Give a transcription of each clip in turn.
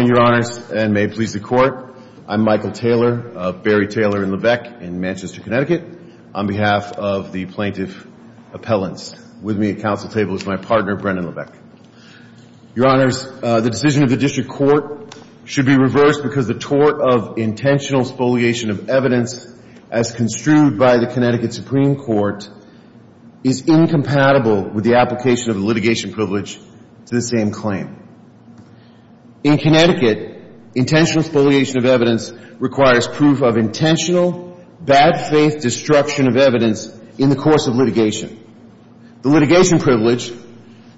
and may it please the Court, I'm Michael Taylor of Barry Taylor & Levesque in Manchester, Connecticut, on behalf of the Plaintiff Appellants. With me at Council table is my partner, Brendan Levesque. Your Honors, the decision of the District Court should be reversed because the tort of intentional spoliation of evidence as construed by the Connecticut Supreme Court is incompatible with the application of the litigation privilege to the same claim. In Connecticut, intentional spoliation of evidence requires proof of intentional bad faith destruction of evidence in the course of litigation. The litigation privilege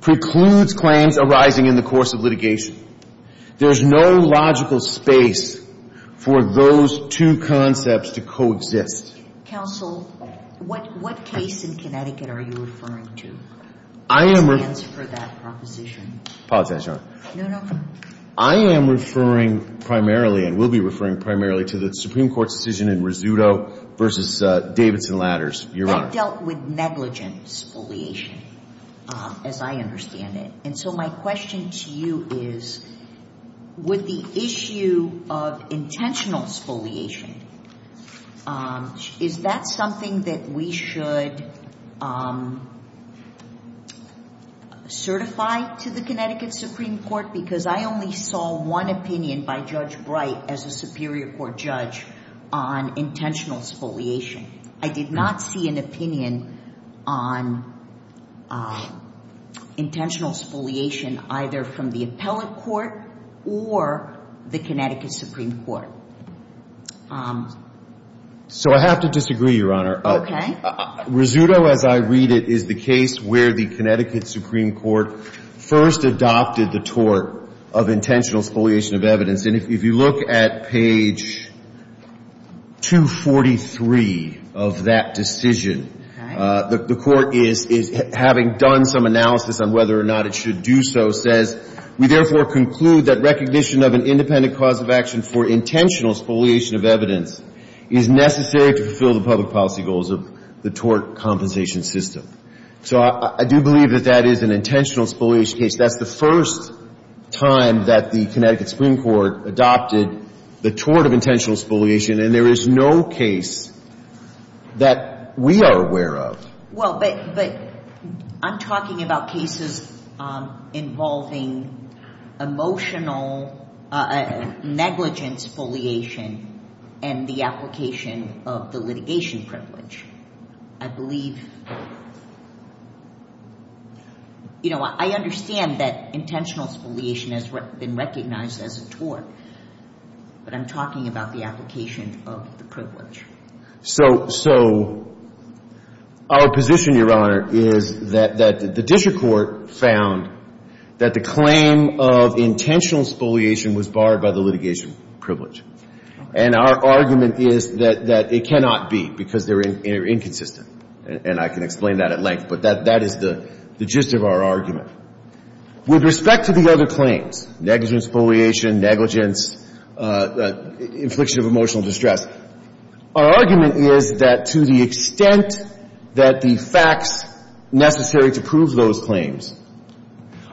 precludes claims arising in the course of litigation. There is no logical space for those two concepts to coexist. Just, Counsel, what case in Connecticut are you referring to that stands for that proposition? I am referring primarily and will be referring primarily to the Supreme Court's decision in Rizzuto v. Davidson Ladders, Your Honor. That dealt with negligent spoliation as I understand it. And so my question to you is with the issue of intentional spoliation, is that something that we should certify to the Connecticut Supreme Court? Because I only saw one opinion by Judge Bright as a Superior Court judge on intentional spoliation. I did not see an opinion on intentional spoliation either from the appellate court or the Connecticut Supreme Court. So I have to disagree, Your Honor. Okay. Rizzuto, as I read it, is the case where the Connecticut Supreme Court first adopted the tort of intentional spoliation of evidence. And if you look at page 243 of that decision, the court is having done some analysis on whether or not it should do so, says, we therefore conclude that recognition of an independent cause of action for intentional spoliation of evidence is necessary to fulfill the public policy goals of the tort compensation system. So I do believe that that is an intentional spoliation case. That's the first time that the Connecticut Supreme Court adopted the tort of intentional spoliation. And there is no case that we are aware of. Well, but I'm talking about cases involving emotional negligence spoliation and the application of the litigation privilege. I believe, you know, I understand that intentional spoliation has been recognized as a tort, but I'm talking about the application of the privilege. So our position, Your Honor, is that the district court found that the claim of intentional spoliation was barred by the litigation privilege. And our argument is that it cannot be because they're inconsistent. And I can explain that at length, but that is the gist of our argument. With respect to the other claims, negligence spoliation, negligence, infliction of emotional distress, our argument is that to the extent that the facts necessary to prove those claims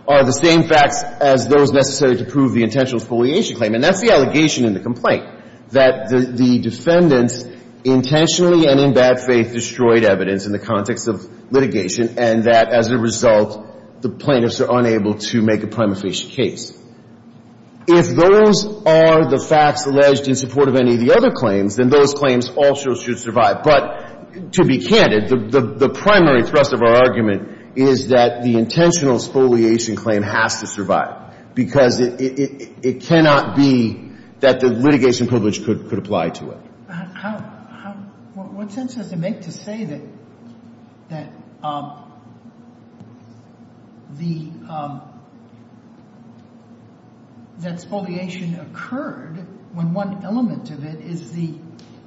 are the same facts as those necessary to prove the intentional spoliation claim, and that's the allegation in the complaint, that the defendants intentionally and in bad faith destroyed evidence in the context of litigation and that as a result, the plaintiffs are unable to make a prima facie case. If those are the facts alleged in support of any of the other claims, then those claims also should survive. But to be candid, the primary thrust of our argument is that the intentional spoliation claim has to survive because it cannot be that the litigation privilege could apply to it. How, how, what sense does it make to say that, that the, that spoliation occurred when one element of it is the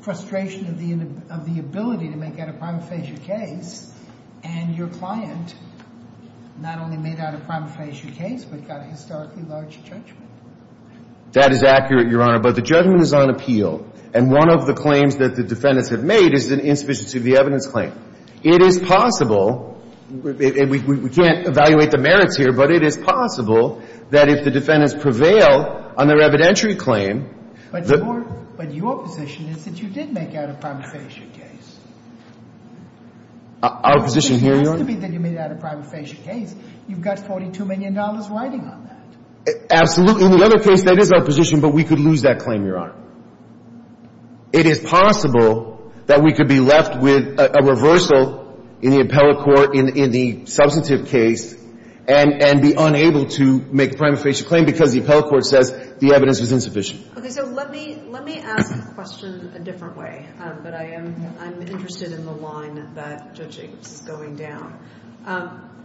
frustration of the, of the ability to make out a prima facie case, and your client not only made out a prima facie case, but got a historically large judgment? That is accurate, Your Honor, but the judgment is on appeal. And one of our arguments of the claims that the defendants have made is an insufficiency of the evidence claim. It is possible, and we, we, we can't evaluate the merits here, but it is possible that if the defendants prevail on their evidentiary claim, that But your, but your position is that you did make out a prima facie case. Our position here, Your Honor? Your position has to be that you made out a prima facie case. You've got $42 million riding on that. Absolutely. In the other case, that is our position, but we could lose that claim, Your Honor. It is possible that we could be left with a reversal in the appellate court in, in the substantive case and, and be unable to make a prima facie claim because the appellate court says the evidence was insufficient. Okay. So let me, let me ask the question a different way, but I am, I'm interested in the line that Judge Jacobs is going down.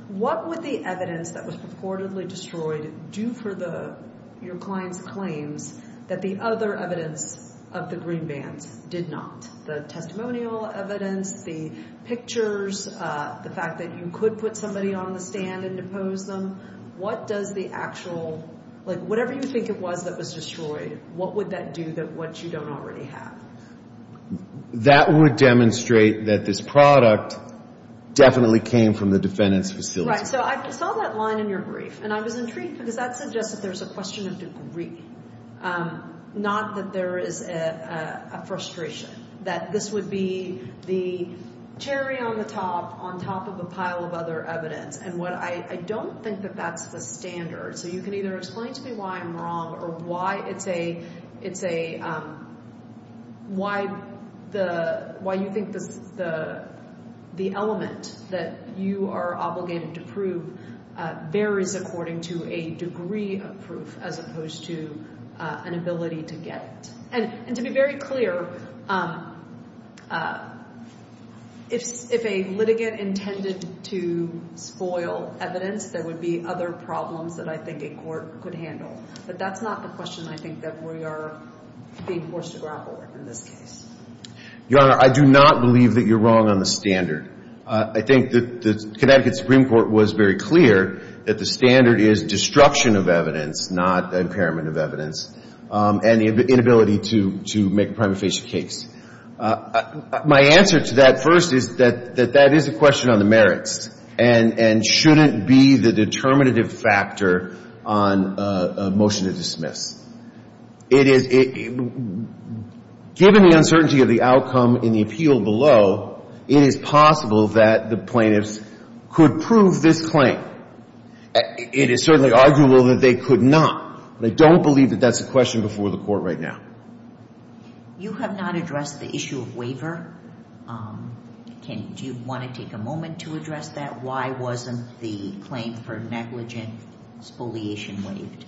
What would the evidence that was purportedly destroyed do for the, your client's claims that the other evidence of the green bands did not? The testimonial evidence, the pictures, the fact that you could put somebody on the stand and depose them, what does the actual, like whatever you think it was that was destroyed, what would that do that what you don't already have? That would demonstrate that this product definitely came from the defendant's facility. So I saw that line in your brief and I was intrigued because that suggests that there's a question of degree, not that there is a frustration, that this would be the cherry on the top on top of a pile of other evidence. And what I don't think that that's the standard. So you can either explain to me why I'm wrong or why it's a, it's a, why the, why you think the, the, the element that you are obligated to prove varies according to a degree of proof as opposed to an ability to get it. And, and to be very clear, if, if a litigant intended to spoil evidence, there would be other problems that I think a court could handle. But that's not the question I think that we are being forced to grapple with in this case. Your Honor, I do not believe that you're wrong on the standard. I think that the Connecticut Supreme Court was very clear that the standard is destruction of evidence, not impairment of evidence, and the inability to, to make a prima facie case. My answer to that first is that, that that is a question on the merits and, and shouldn't be the determinative factor on a motion to dismiss. It is, given the uncertainty of the It is possible that the plaintiffs could prove this claim. It is certainly arguable that they could not. But I don't believe that that's a question before the Court right now. You have not addressed the issue of waiver. Can, do you want to take a moment to address that? Why wasn't the claim for negligent spoliation waived?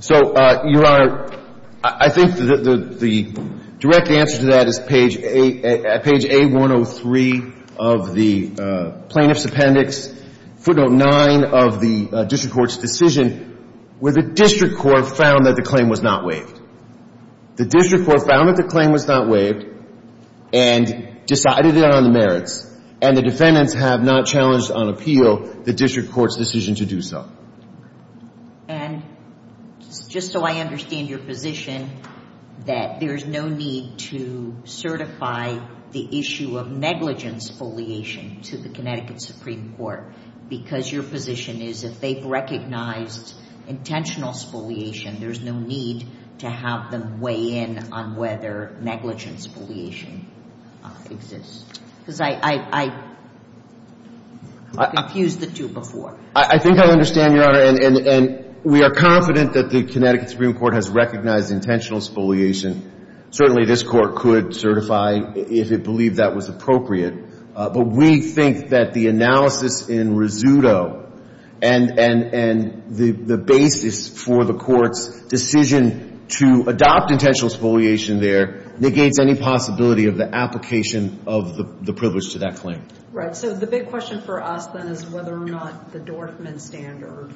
So, Your Honor, I think that the, the direct answer to that is page A, page A-103 of the Plaintiff's Appendix, footnote 9 of the district court's decision, where the district court found that the claim was not waived. The district court found that the claim was not waived and decided it on the merits. And the defendants have not challenged on appeal the district court's decision to do so. And just so I understand your position, that there's no need to certify the issue of negligent spoliation to the Connecticut Supreme Court, because your position is if they've recognized intentional spoliation, there's no need to have them weigh in on whether negligent spoliation exists. Because I, I, I confused the two before. I, I think I understand, Your Honor. And, and, and we are confident that the Connecticut Supreme Court has recognized intentional spoliation. Certainly this court could certify if it believed that was appropriate. But we think that the analysis in Rizzuto and, and, and the, the basis for the court's decision to adopt intentional spoliation there negates any possibility of the application of the, the privilege to that claim. Right. So the big question for us then is whether or not the Dorfman standard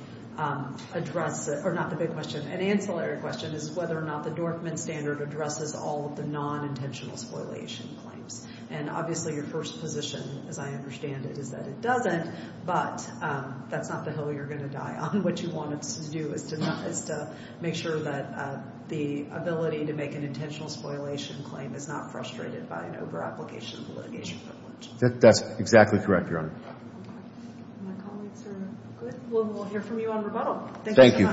addresses, or not the big question, an ancillary question is whether or not the Dorfman standard addresses all of the non-intentional spoliation claims. And obviously your first position, as I understand it, is that it doesn't. But that's not the hill you're going to die on. What you want us to do is to, is to make sure that the ability to make an intentional spoliation claim is not frustrated by an over-application of the litigation privilege. That's exactly correct, Your Honor. My colleagues are good. We'll, we'll hear from you on rebuttal. Thank you.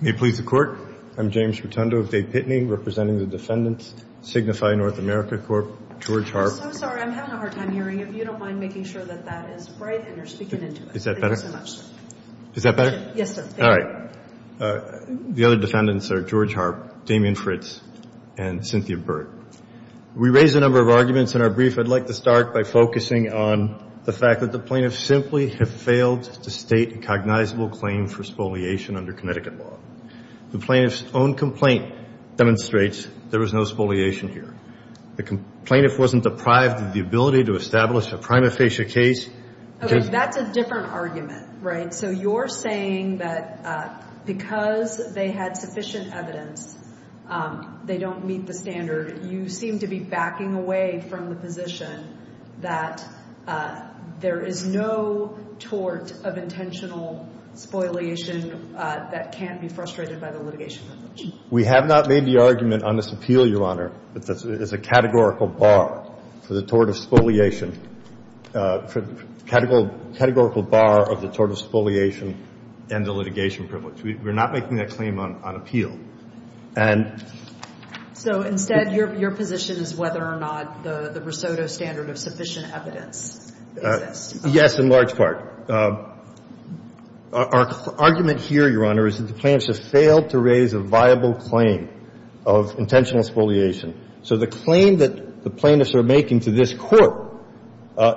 May it please the Court. I'm James Rotundo of Dade Pitney, representing the defendants, Signify North America Corp, George Harp. I'm so sorry. I'm having a hard time hearing. If you don't mind making sure that that is bright and you're speaking into it. Is that better? Thank you so much. Is that better? Yes, sir. All right. The other defendants are George Harp, Damien Fritz, and Cynthia Burt. We raised a number of arguments in our brief. I'd like to start by focusing on the fact that the plaintiffs simply have failed to state a cognizable claim for spoliation under Connecticut law. The plaintiff's own complaint demonstrates there was no spoliation here. The plaintiff wasn't deprived of the ability to establish a prima facie case. Okay. That's a different argument, right? So you're saying that because they had sufficient evidence, they don't meet the standard. You seem to be backing away from the position that there is no tort of intentional spoliation that can't be frustrated by the litigation. We have not made the argument on this appeal, Your Honor, that there's a categorical bar for the tort of spoliation, categorical bar of the tort of spoliation and the litigation privilege. We're not making that claim on appeal. And so instead, your position is whether or not the Risotto standard of sufficient evidence exists. Yes, in large part. Our argument here, Your Honor, is that the plaintiffs have failed to raise a viable claim of intentional spoliation. So the claim that the plaintiffs are making to this Court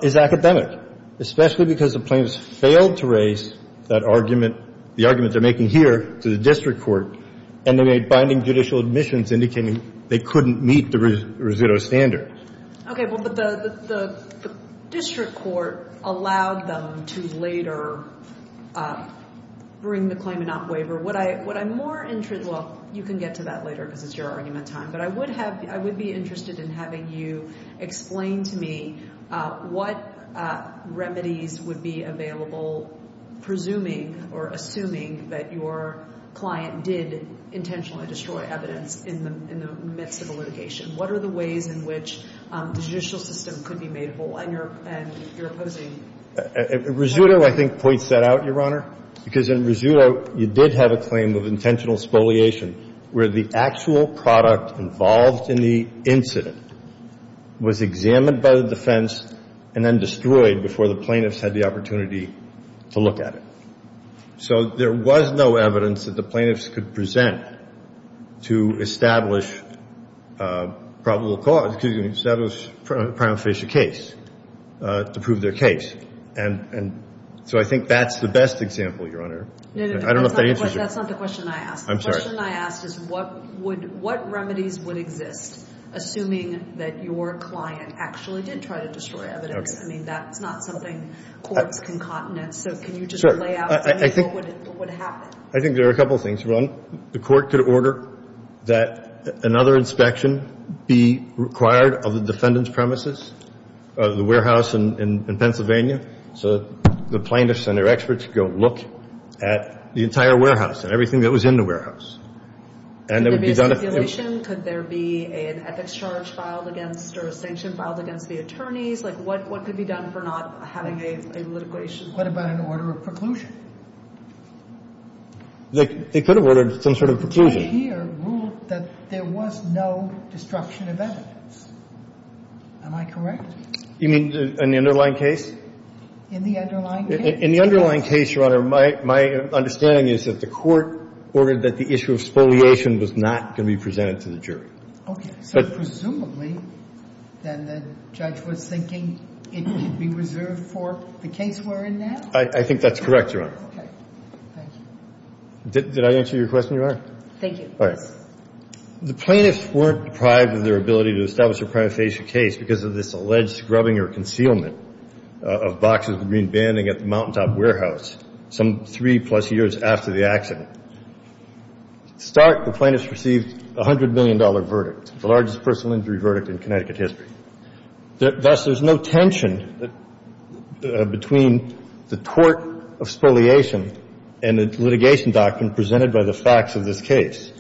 is academic, especially because the plaintiffs failed to raise that argument, the argument they're making here to the district court, and they made binding judicial admissions indicating they couldn't meet the Risotto standard. Okay. Well, but the district court allowed them to later bring the claim and not waiver. What I'm more interested in, well, you can get to that later because it's your argument time, but I would have, I would be interested in having you explain to me what remedies would be available presuming or assuming that your client did intentionally destroy evidence in the midst of a litigation. What are the ways in which the judicial system could be made whole and your opposing? Risotto, I think, points that out, Your Honor, because in Risotto you did have a claim of intentional spoliation where the actual product involved in the incident was examined by the defense and then destroyed before the plaintiffs had the opportunity to look at it. So there was no evidence that the plaintiffs could present to establish probable case to prove their case. And so I think that's the best example, Your Honor. No, no, no. I don't know if that answers your question. That's not the question I asked. I'm sorry. The question I asked is what would, what remedies would exist assuming that your client actually did try to destroy evidence? I mean, that's not something courts can continent. So can you just lay out for me what would happen? I think there are a couple of things. One, the court could order that another inspection be required of the defendant's premises, the warehouse in Pennsylvania, so the plaintiffs and their experts go look at the entire warehouse and everything that was in the warehouse. And there would be a speculation, could there be an ethics charge filed against or a sanction filed against the attorneys? Like what could be done for not having a litigation? What about an order of preclusion? They could have ordered some sort of preclusion. The court here ruled that there was no destruction of evidence. Am I correct? You mean in the underlying case? In the underlying case. In the underlying case, Your Honor, my understanding is that the court ordered that the issue of spoliation was not going to be presented to the jury. Okay. So presumably then the judge was thinking it could be reserved for the case we're in now? I think that's correct, Your Honor. Okay. Thank you. Did I answer your question, Your Honor? Thank you. All right. The plaintiffs weren't deprived of their ability to establish a prima facie case because of this alleged scrubbing or concealment of boxes of green banding at the Mountaintop warehouse some three-plus years after the accident. Start, the plaintiffs received a $100 million verdict, the largest personal injury verdict in Connecticut history. Thus, there's no tension between the tort of spoliation and the litigation doctrine presented by the facts of this case.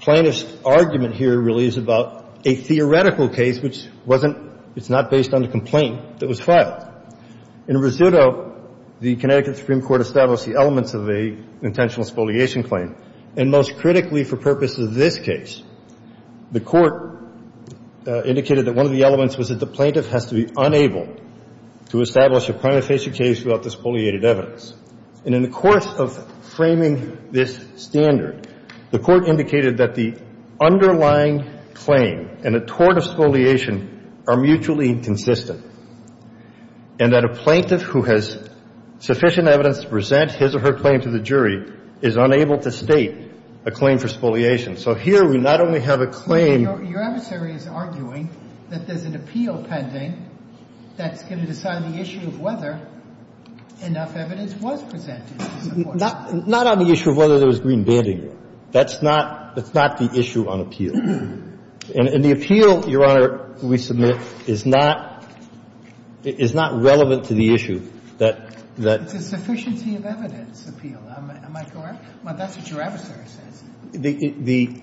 Plaintiff's argument here really is about a theoretical case which wasn't – it's not based on the complaint that was filed. In Rosutto, the Connecticut Supreme Court established the elements of an intentional spoliation claim. And most critically for purposes of this case, the Court indicated that one of the elements was that the plaintiff has to be unable to establish a prima facie case without the spoliated evidence. And in the course of framing this standard, the Court indicated that the underlying claim and the tort of spoliation are mutually inconsistent and that a plaintiff who has sufficient evidence to present his or her claim to the jury is unable to state a claim for spoliation. So here we not only have a claim – Your adversary is arguing that there's an appeal pending that's going to decide And that's not on the issue of whether enough evidence was presented to support that. Not on the issue of whether there was green banding. That's not – that's not the issue on appeal. And the appeal, Your Honor, we submit, is not – is not relevant to the issue that – that – It's a sufficiency of evidence appeal. Am I correct? Well, that's what your adversary says. The – the – And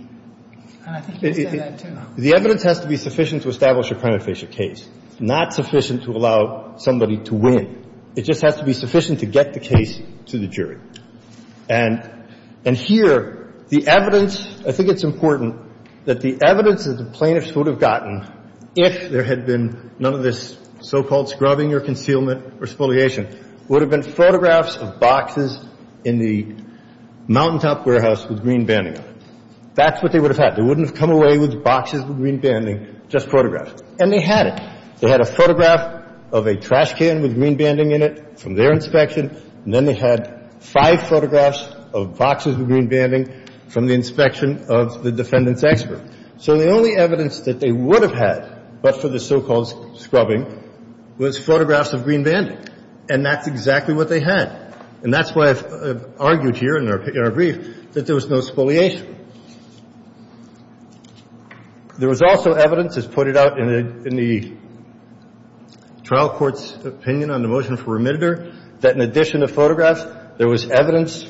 I think you can say that, too. The evidence has to be sufficient to establish a prima facie case, not sufficient to allow somebody to win. It just has to be sufficient to get the case to the jury. And – and here, the evidence – I think it's important that the evidence that the plaintiffs would have gotten if there had been none of this so-called scrubbing or concealment or spoliation would have been photographs of boxes in the mountaintop warehouse with green banding on it. That's what they would have had. They wouldn't have come away with boxes with green banding, just photographs. And they had it. They had a photograph of a trash can with green banding in it from their inspection, and then they had five photographs of boxes with green banding from the inspection of the defendant's expert. So the only evidence that they would have had but for the so-called scrubbing was photographs of green banding. And that's exactly what they had. And that's why I've argued here in our – in our brief that there was no spoliation. There was also evidence, as put it out in the – in the trial court's opinion on the motion for remitter, that in addition to photographs, there was evidence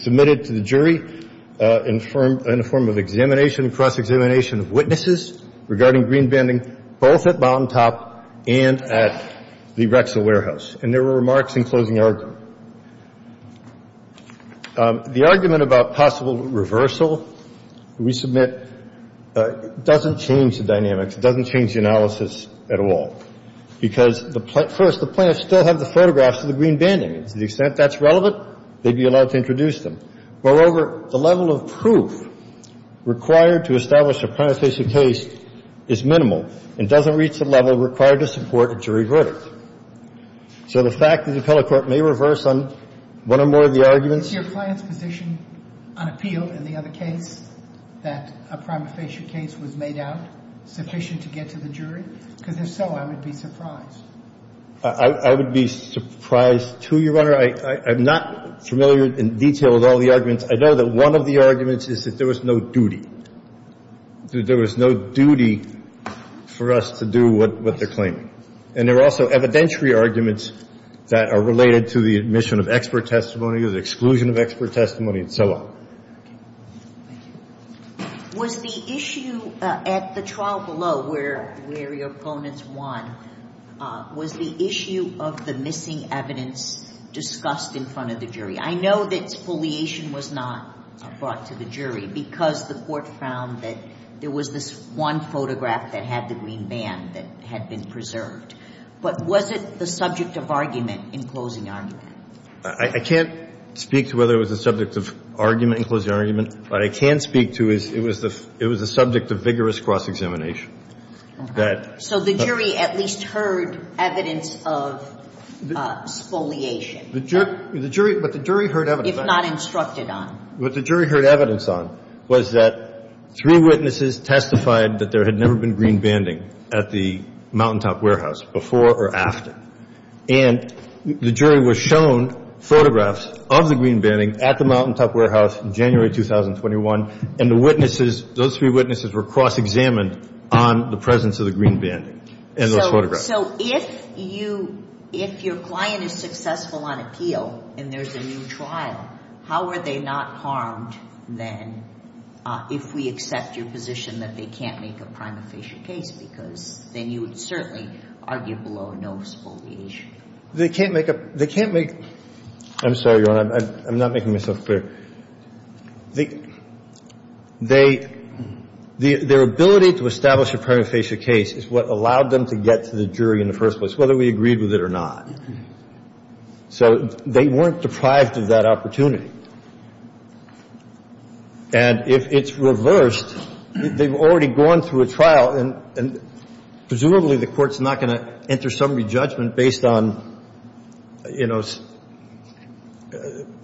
submitted to the jury in a form of examination, cross-examination of witnesses regarding green banding both at mountaintop and at the Rexall warehouse. And there were remarks in closing argument. The argument about possible reversal we submit doesn't change the dynamics. It doesn't change the analysis at all. Because the – first, the plaintiffs still have the photographs of the green banding. To the extent that's relevant, they'd be allowed to introduce them. Moreover, the level of proof required to establish a prima facie case is minimal and doesn't reach the level required to support a jury verdict. So the fact that the appellate court may reverse on one or more of the arguments – Sotomayor What's your client's position on appeal in the other case, that a prima facie case was made out sufficient to get to the jury? Because if so, I would be surprised. Carvin I would be surprised, too, Your Honor. I'm not familiar in detail with all the arguments. I know that one of the arguments is that there was no duty. There was no duty. There was no duty to the plaintiff. There was no duty to the jury. And so I would be surprised if the plaintiffs were not to do what they're claiming. And there are also evidentiary arguments that are related to the admission of expert testimony, the exclusion of expert testimony, and so on. Sotomayor Was the issue at the trial below where your opponents won, was the issue of the missing evidence discussed in front of the jury? I know that foliation was not brought to the jury because the court found that there was this one photograph that had the green band that had been preserved. But was it the subject of argument in closing argument? Carvin I can't speak to whether it was the subject of argument in closing argument. What I can speak to is it was the subject of vigorous cross-examination. Sotomayor So the jury at least heard evidence of foliation? Carvin The jury heard evidence. Sotomayor If not instructed on? Carvin What the jury heard evidence on was that three witnesses testified that there had never been green banding at the Mountaintop Warehouse before or after. And the jury was shown photographs of the green banding at the Mountaintop Warehouse in January 2021. And the witnesses, those three witnesses were cross-examined on the presence of the green banding in those photographs. Sotomayor So if you, if your client is successful on appeal and there's a new trial, how are they not harmed then if we accept your position that they can't make a prima facie case? Because then you would certainly argue below no foliation. Carvin They can't make a, they can't make, I'm sorry, Your Honor, I'm not making myself clear. They, they, their ability to establish a prima facie case is what allowed them to get to the jury in the first place, whether we agreed with it or not. So they weren't deprived of that opportunity. And if it's reversed, they've already gone through a trial and, and presumably the court's not going to enter some re-judgment based on, you know,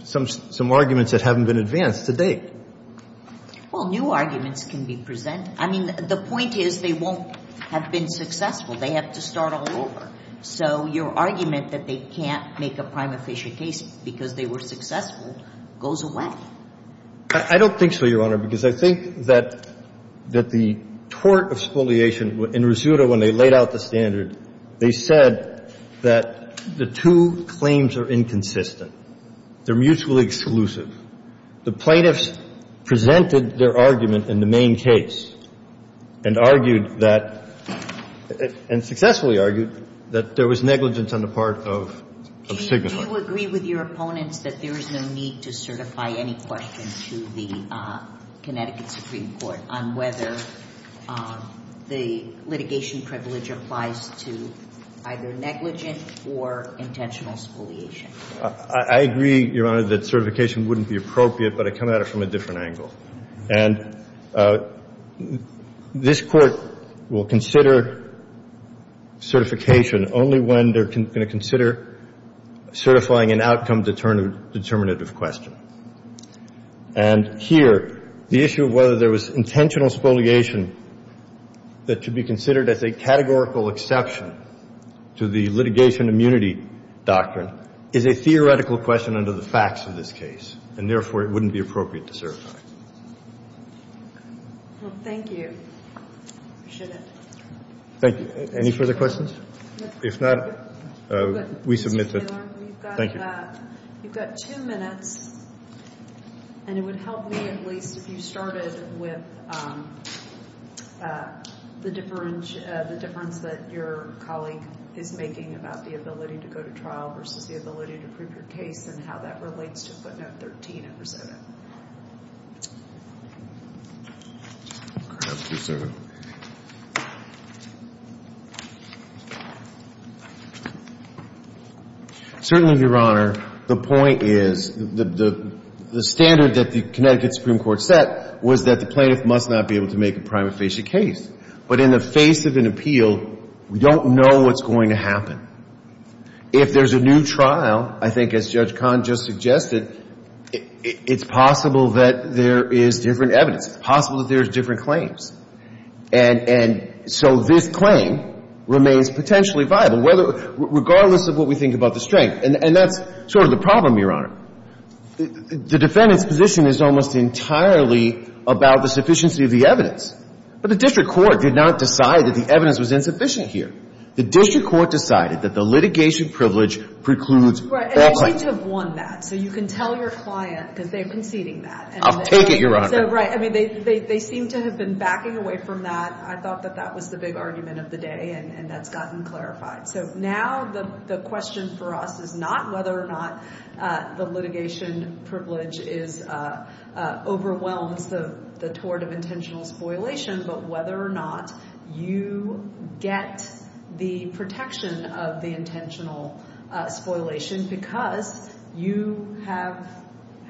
some, some arguments that haven't been advanced to date. Sotomayor Well, new arguments can be presented. I mean, the point is they won't have been successful. They have to start all over. So your argument that they can't make a prima facie case because they were successful goes away. Carvin I don't think so, Your Honor, because I think that, that the tort of the plaintiff, the plaintiff's argument about the standard, they said that the two claims are inconsistent. They're mutually exclusive. The plaintiffs presented their argument in the main case and argued that, and successfully argued, that there was negligence on the part of, of signifiers. Sotomayor Do you agree with your opponents that there is no need to certify any question to the Connecticut Supreme Court on whether the litigation privilege applies to either negligent or intentional spoliation? Carvin I agree, Your Honor, that certification wouldn't be appropriate, but I come at it from a different angle. And this Court will consider certification only when they're going to consider certifying an outcome determinant of question. And here, the issue of whether there was intentional spoliation that should be considered as a categorical exception to the litigation immunity doctrine is a theoretical question under the facts of this case, and therefore, it wouldn't be appropriate to certify. Sotomayor Well, thank you. I appreciate it. Carvin Thank you. Any further questions? If not, we submit that. Sotomayor We've got, you've got two minutes, and it would help me at least if you started with the difference, the difference that your colleague is making about the ability to go to trial versus the ability to prove your case and how that relates to footnote 13 of RISOTA. Carvin Certainly, Your Honor, the point is, the standard that the Connecticut Supreme Court set was that the plaintiff must not be able to make a prima facie case. But in the face of an appeal, we don't know what's going to happen. If there's a new trial, I think as Judge Kahn just suggested, it's possible that there is different evidence. It's possible that there's different claims. And so this claim remains potentially viable, regardless of what we think about the strength. And that's sort of the problem, Your Honor. The defendant's position is almost entirely about the sufficiency of the evidence. But the district court did not decide that the evidence was insufficient here. The district court decided that the litigation privilege precludes all claims. Kagan Right. And they seem to have won that. So you can tell your client, because they're conceding that. Carvin I'll take it, Your Honor. Kagan So, right. I mean, they seem to have been backing away from that. I thought that that was the big argument of the day, and that's gotten clarified. So now the question for us is not whether or not the litigation privilege overwhelms the tort of intentional spoliation, but whether or not you get the protection of the intentional spoliation, because you have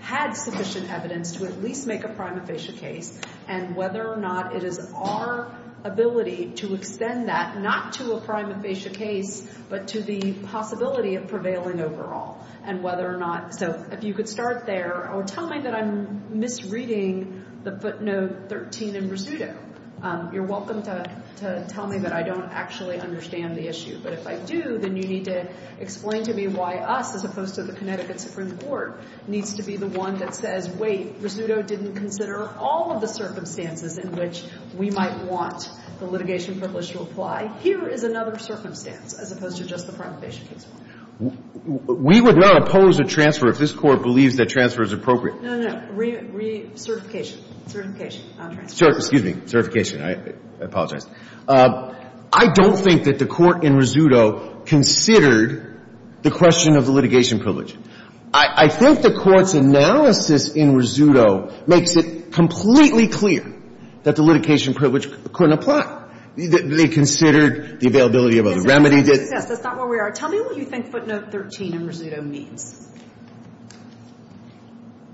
had sufficient evidence to at least make a prima facie case, and whether or not it is our ability to extend that, not to a prima facie case, but to the possibility of prevailing overall. And whether or not So if you could start there, or tell me that I'm misreading the footnote 13 in Rizzuto, you're welcome to tell me that I don't actually understand the issue. But if I do, then you need to explain to me why us, as opposed to the Connecticut Supreme Court, needs to be the one that says, wait, Rizzuto didn't consider all of the circumstances in which we might want the litigation privilege to apply. Here is another circumstance, as opposed to just the prima facie case. We would not oppose a transfer if this Court believes that transfer is appropriate. No, no. Certification. Certification on transfer. Excuse me. Certification. I apologize. I don't think that the Court in Rizzuto considered the question of the litigation privilege. I think the Court's analysis in Rizzuto makes it completely clear that the litigation privilege couldn't apply. They considered the availability of a remedy that That's not where we are. Tell me what you think footnote 13 in Rizzuto means.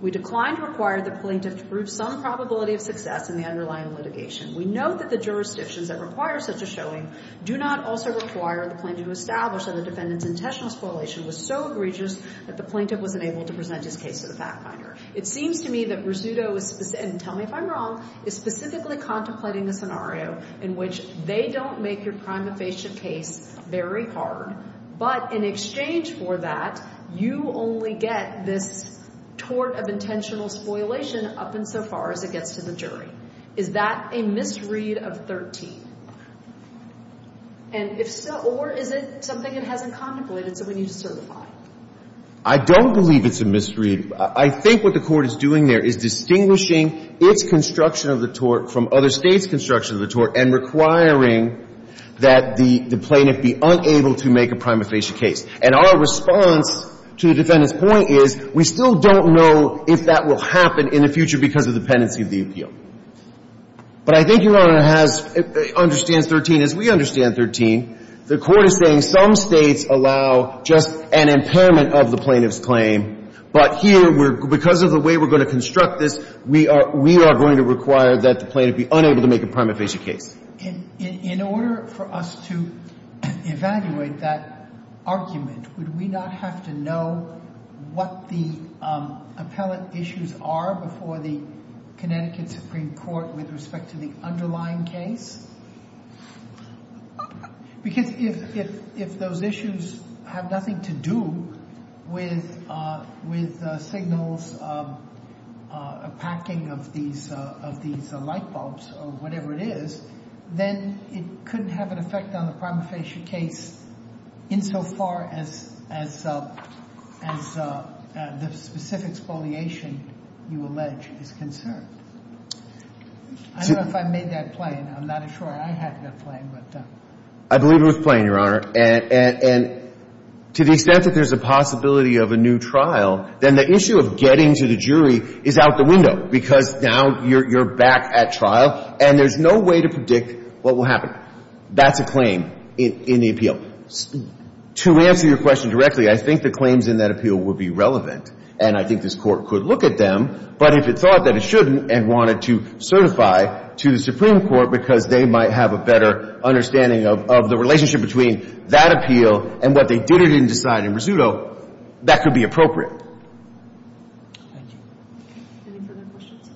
We declined to require the plaintiff to prove some probability of success in the underlying litigation. We know that the jurisdictions that require such a showing do not also require the plaintiff to establish that the defendant's intentional spoliation was so egregious that the plaintiff was unable to present his case to the fact finder. It seems to me that Rizzuto is, and tell me if I'm wrong, is specifically contemplating a scenario in which they don't make your prima facie case very hard, but in exchange for that, you only get this tort of intentional spoliation up and so far as it gets to the jury. Is that a misread of 13? And if so, or is it something it hasn't contemplated so we need to certify? I don't believe it's a misread. I think what the Court is doing there is distinguishing its construction of the tort from other States' construction of the tort and requiring that the plaintiff be unable to make a prima facie case. And our response to the defendant's point is we still don't know if that will happen in the future because of the pendency of the appeal. But I think Your Honor has, understands 13 as we understand 13. The Court is saying some States allow just an impairment of the plaintiff's claim, but here, because of the way we're going to construct this, we are going to require that the plaintiff be unable to make a prima facie case. In order for us to evaluate that argument, would we not have to know what the appellate issues are before the Connecticut Supreme Court with respect to the underlying case? Because if those issues have nothing to do with signals, a packing of these light bulbs or whatever it is, then it couldn't have an effect on the prima facie case insofar as the specific spoliation you allege is concerned. I don't know if I made that plain. I'm not sure I had that plain. I believe it was plain, Your Honor. And to the extent that there's a possibility of a new trial, then the issue of getting to the jury is out the window because now you're back at trial and there's no way to predict what will happen. That's a claim in the appeal. To answer your question directly, I think the claims in that appeal would be relevant and I think this Court could look at them, but if it thought that it shouldn't and wanted to certify to the Supreme Court because they might have a better that could be appropriate. Thank you. Any further questions?